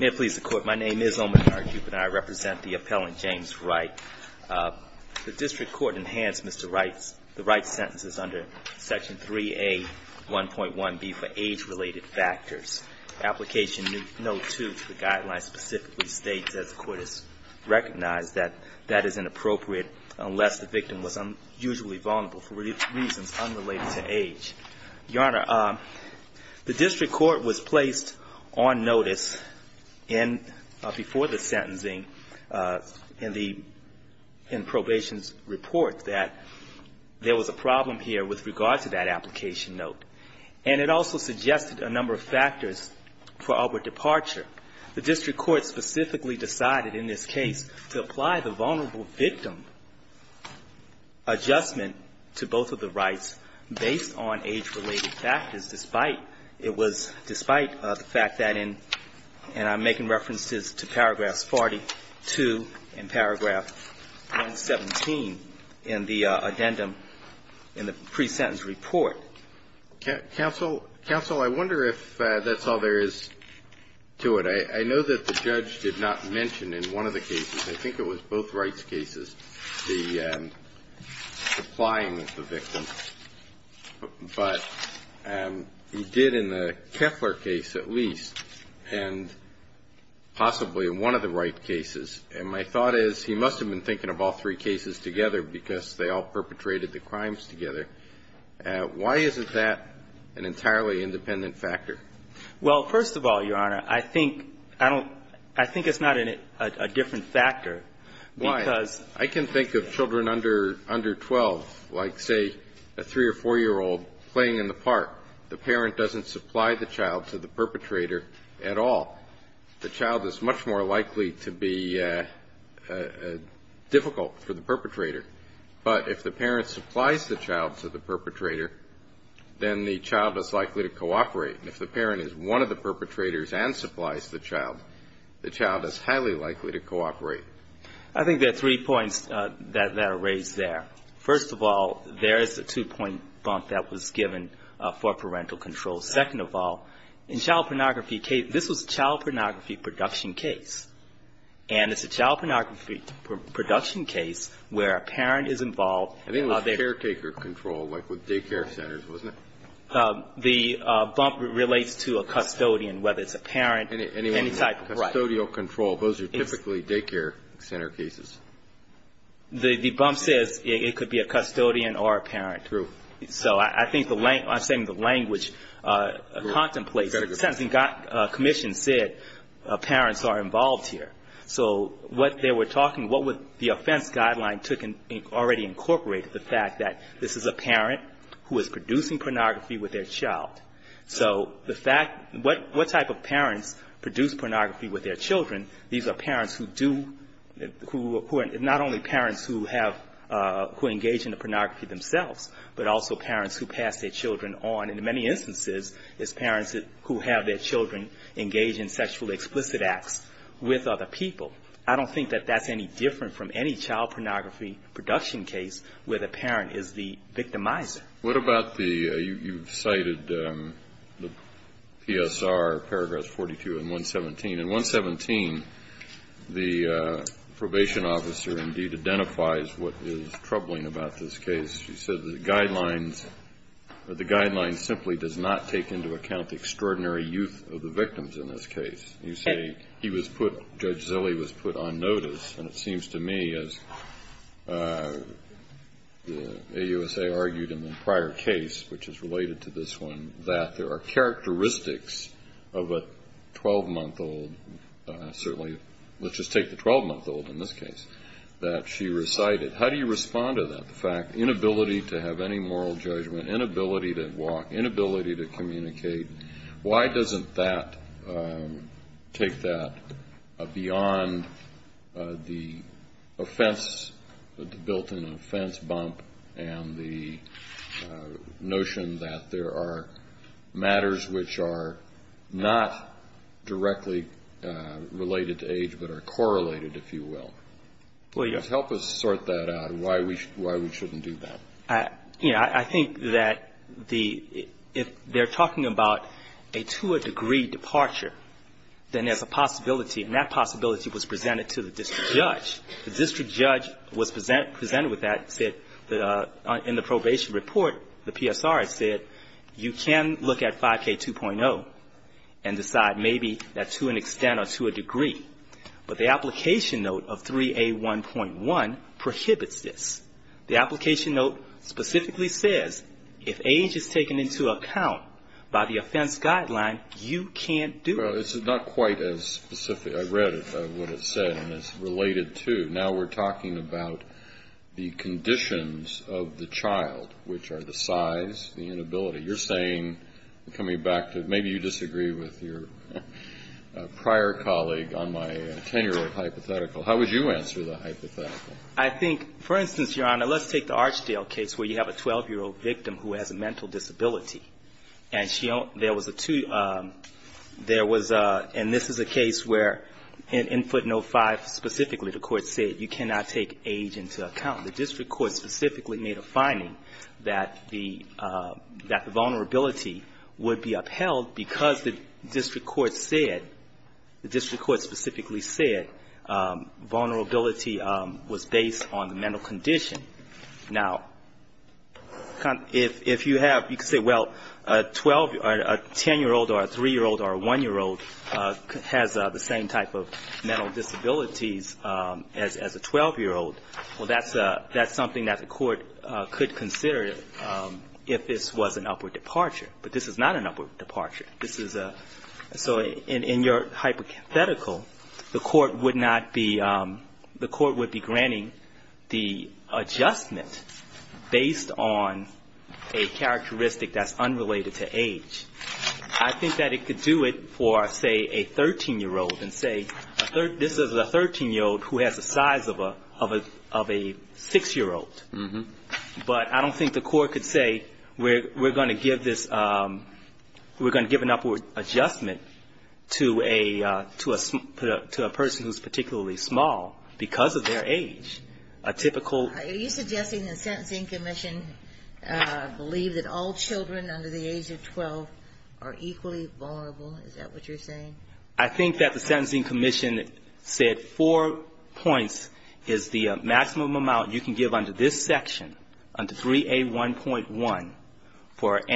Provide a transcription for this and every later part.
May it please the court, my name is Omanari Cupid and I represent the appellant James Wright. The district court in hands Mr. Wright's, the Wright's sentence is under section 3A 1.1B for age related factors. Application no. 2 to the guidelines specifically states that the court has recognized that that is inappropriate unless the victim was unusually vulnerable for reasons unrelated to age. Your Honor, the district court was placed on notice before the sentencing in probation's report that there was a problem here with regard to that application note. And it also suggested a number of factors for our departure. The district court specifically decided in this case to apply the vulnerable victim adjustment to both of the rights based on age related factors, despite it was, despite the fact that in, and I'm making references to paragraphs 42 and paragraph 117 in the addendum in the pre-sentence report. So counsel, counsel, I wonder if that's all there is to it. I know that the judge did not mention in one of the cases, I think it was both Wright's cases, the supplying of the victim. But he did in the Keffler case at least, and possibly in one of the Wright cases. And my thought is, he must have been thinking of all three cases together because they all perpetrated the crimes together. Why isn't that an entirely independent factor? Well, first of all, Your Honor, I think, I don't, I think it's not a different factor. Why? I can think of children under 12, like say a 3 or 4-year-old playing in the park. The parent doesn't supply the child to the perpetrator at all. The child is much more likely to be difficult for the perpetrator. But if the parent supplies the child to the perpetrator, then the child is likely to cooperate. And if the parent is one of the perpetrators and supplies the child, the child is highly likely to cooperate. I think there are three points that are raised there. First of all, there is a two-point bump that was given for parental control. Second of all, in child pornography case, this was a child pornography production case. And it's a child pornography production case where a parent is involved. I think it was caretaker control, like with daycare centers, wasn't it? The bump relates to a custodian, whether it's a parent, any type of right. Custodial control, those are typically daycare center cases. The bump says it could be a custodian or a parent. True. So I think the language contemplates it. The Sentencing Commission said parents are involved here. So what they were talking, what the offense guideline took and already incorporated, the fact that this is a parent who is producing pornography with their child. So the fact, what type of parents produce pornography with their children, these are parents who do, not only parents who have, who engage in the pornography themselves, but also parents who pass their children on in many instances as parents who have their children engage in sexually explicit acts with other people. I don't think that that's any different from any child pornography production case where the parent is the victimizer. What about the, you've cited the PSR, paragraphs 42 and 117. In 117, the probation officer indeed identifies what is troubling about this case. She said the guidelines simply does not take into account the extraordinary youth of the victims in this case. You say he was put, Judge Zille was put on notice. And it seems to me, as AUSA argued in the prior case, which is related to this one, that there are characteristics of a 12-month-old, certainly, let's just take the 12-month-old in this case, that she recited. How do you respond to that, the fact, inability to have any moral judgment, inability to walk, inability to communicate? Why doesn't that take that beyond the offense, the built-in offense bump and the notion that there are matters which are not directly related to age, but are correlated, if you will? Help us sort that out, why we shouldn't do that. I, you know, I think that the, if they're talking about a two-a-degree departure, then there's a possibility, and that possibility was presented to the district judge. The district judge was presented with that and said in the probation report, the PSR said you can look at 5K2.0 and decide maybe that's to an extent or to a degree. But the application note of 3A1.1 prohibits this. The application note specifically says if age is taken into account by the offense guideline, you can't do it. Well, it's not quite as specific. I read what it said, and it's related to. Now we're talking about the conditions of the child, which are the size, the inability. You're saying, coming back to, maybe you disagree with your prior colleague on my tenure of hypothetical. How would you answer the hypothetical? I think, for instance, Your Honor, let's take the Archdale case where you have a 12-year-old victim who has a mental disability. And she, there was a two, there was a, and this is a case where in footnote 5 specifically, the court said you cannot take age into account. The district court specifically made a finding that the, that the vulnerability would be upheld because the district court said, the district court specifically said vulnerability was based on the mental condition. Now, if you have, you could say, well, a 10-year-old or a 3-year-old or a 1-year-old has the same type of mental disabilities as a 12-year-old, well, that's something that the court could consider if this was an upward departure. But this is not an upward departure. This is a, so in your hypothetical, the court would not be, the court would be granting the adjustment based on a characteristic that's unrelated to age. I think that it could do it for, say, a 13-year-old and say, this is a 13-year-old who has the size of a 6-year-old. But I don't think the court could say we're going to give this, we're going to give an upward adjustment to a, to a person who's particularly small because of their age. A typical ---- Are you suggesting the Sentencing Commission believe that all children under the age of 12 are equally vulnerable? Is that what you're saying? I think that the Sentencing Commission said four points is the maximum amount you can give under this statute. I think that the Sentencing Commission said four points is the maximum amount you can give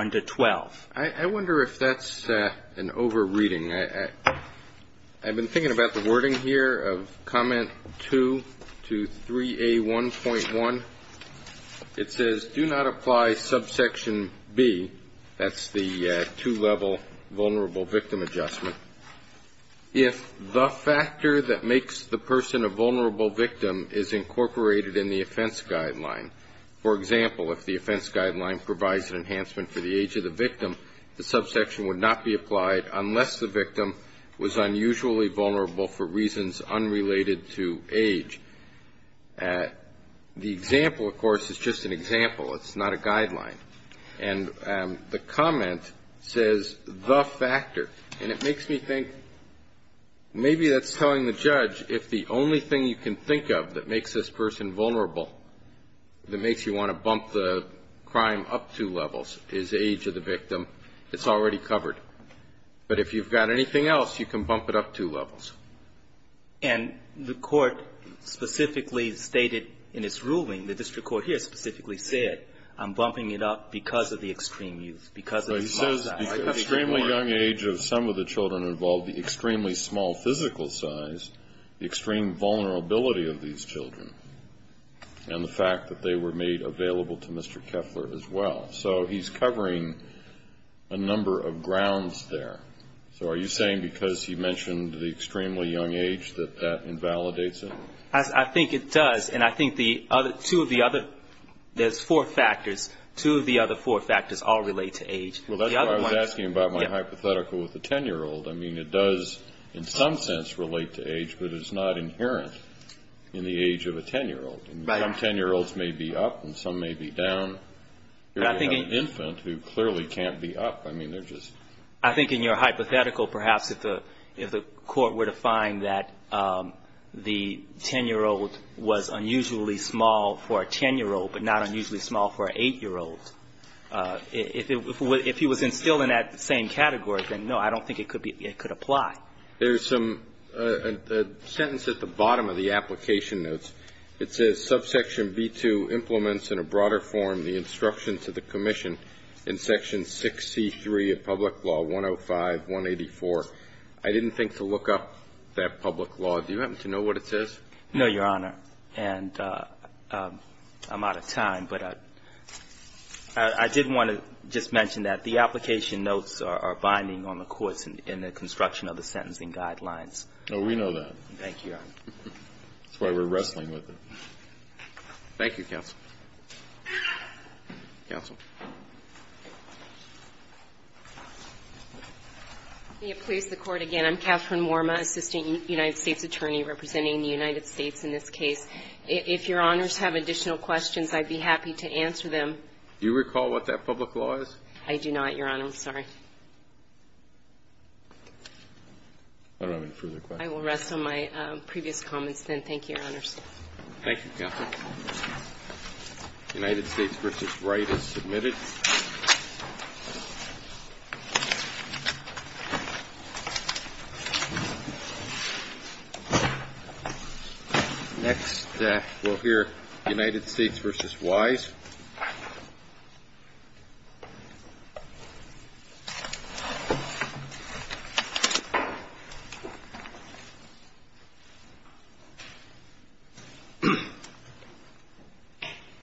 under this statute. I wonder if that's an over-reading. I've been thinking about the wording here of comment 2 to 3A1.1. It says, do not apply subsection B, that's the two-level vulnerable victim adjustment, if the factor that makes the person a vulnerable victim is incorporated in the offense guideline. For example, if the offense guideline provides an enhancement for the age of the victim, the subsection would not be applied unless the victim was unusually vulnerable for reasons unrelated to age. The example, of course, is just an example. It's not a guideline. And the comment says, the factor. And it makes me think maybe that's telling the judge, if the only thing you can think of that makes this person vulnerable, that makes you want to bump the crime up two levels, is age of the victim, it's already covered. But if you've got anything else, you can bump it up two levels. And the Court specifically stated in its ruling, the district court here specifically said, I'm bumping it up because of the extreme youth, because of the small size. The extreme vulnerability of these children. And the fact that they were made available to Mr. Keffler as well. So he's covering a number of grounds there. So are you saying because he mentioned the extremely young age that that invalidates it? I think it does. And I think the two of the other, there's four factors, two of the other four factors all relate to age. Well, that's why I was asking about my hypothetical with the 10-year-old. I mean, it does in some sense relate to age, but it's not inherent in the age of a 10-year-old. And some 10-year-olds may be up and some may be down. You have an infant who clearly can't be up. I mean, they're just... I think in your hypothetical, perhaps, if the Court were to find that the 10-year-old was unusually small for a 10-year-old, but not unusually small for an 8-year-old, if he was instilled in that same category, then, no, I don't think it could be, it could apply. There's some, a sentence at the bottom of the application notes. It says, Subsection V2 implements in a broader form the instructions of the Commission in Section 6C3 of Public Law 105-184. I didn't think to look up that public law. Do you happen to know what it says? No, Your Honor. And I'm out of time, but I did want to just mention that the application notes are binding on the courts in the construction of the sentencing guidelines. Oh, we know that. Thank you, Your Honor. That's why we're wrestling with it. Thank you, counsel. Counsel. May it please the Court again. I'm Catherine Worma, Assistant United States Attorney representing the United States in this case. If Your Honors have additional questions, I'd be happy to answer them. Do you recall what that public law is? I do not, Your Honor. I'm sorry. I don't have any further questions. I will rest on my previous comments, then. Thank you, Your Honors. Thank you, Catherine. United States v. Wright is submitted. Next, we'll hear United States v. Wise. Thank you, Your Honor.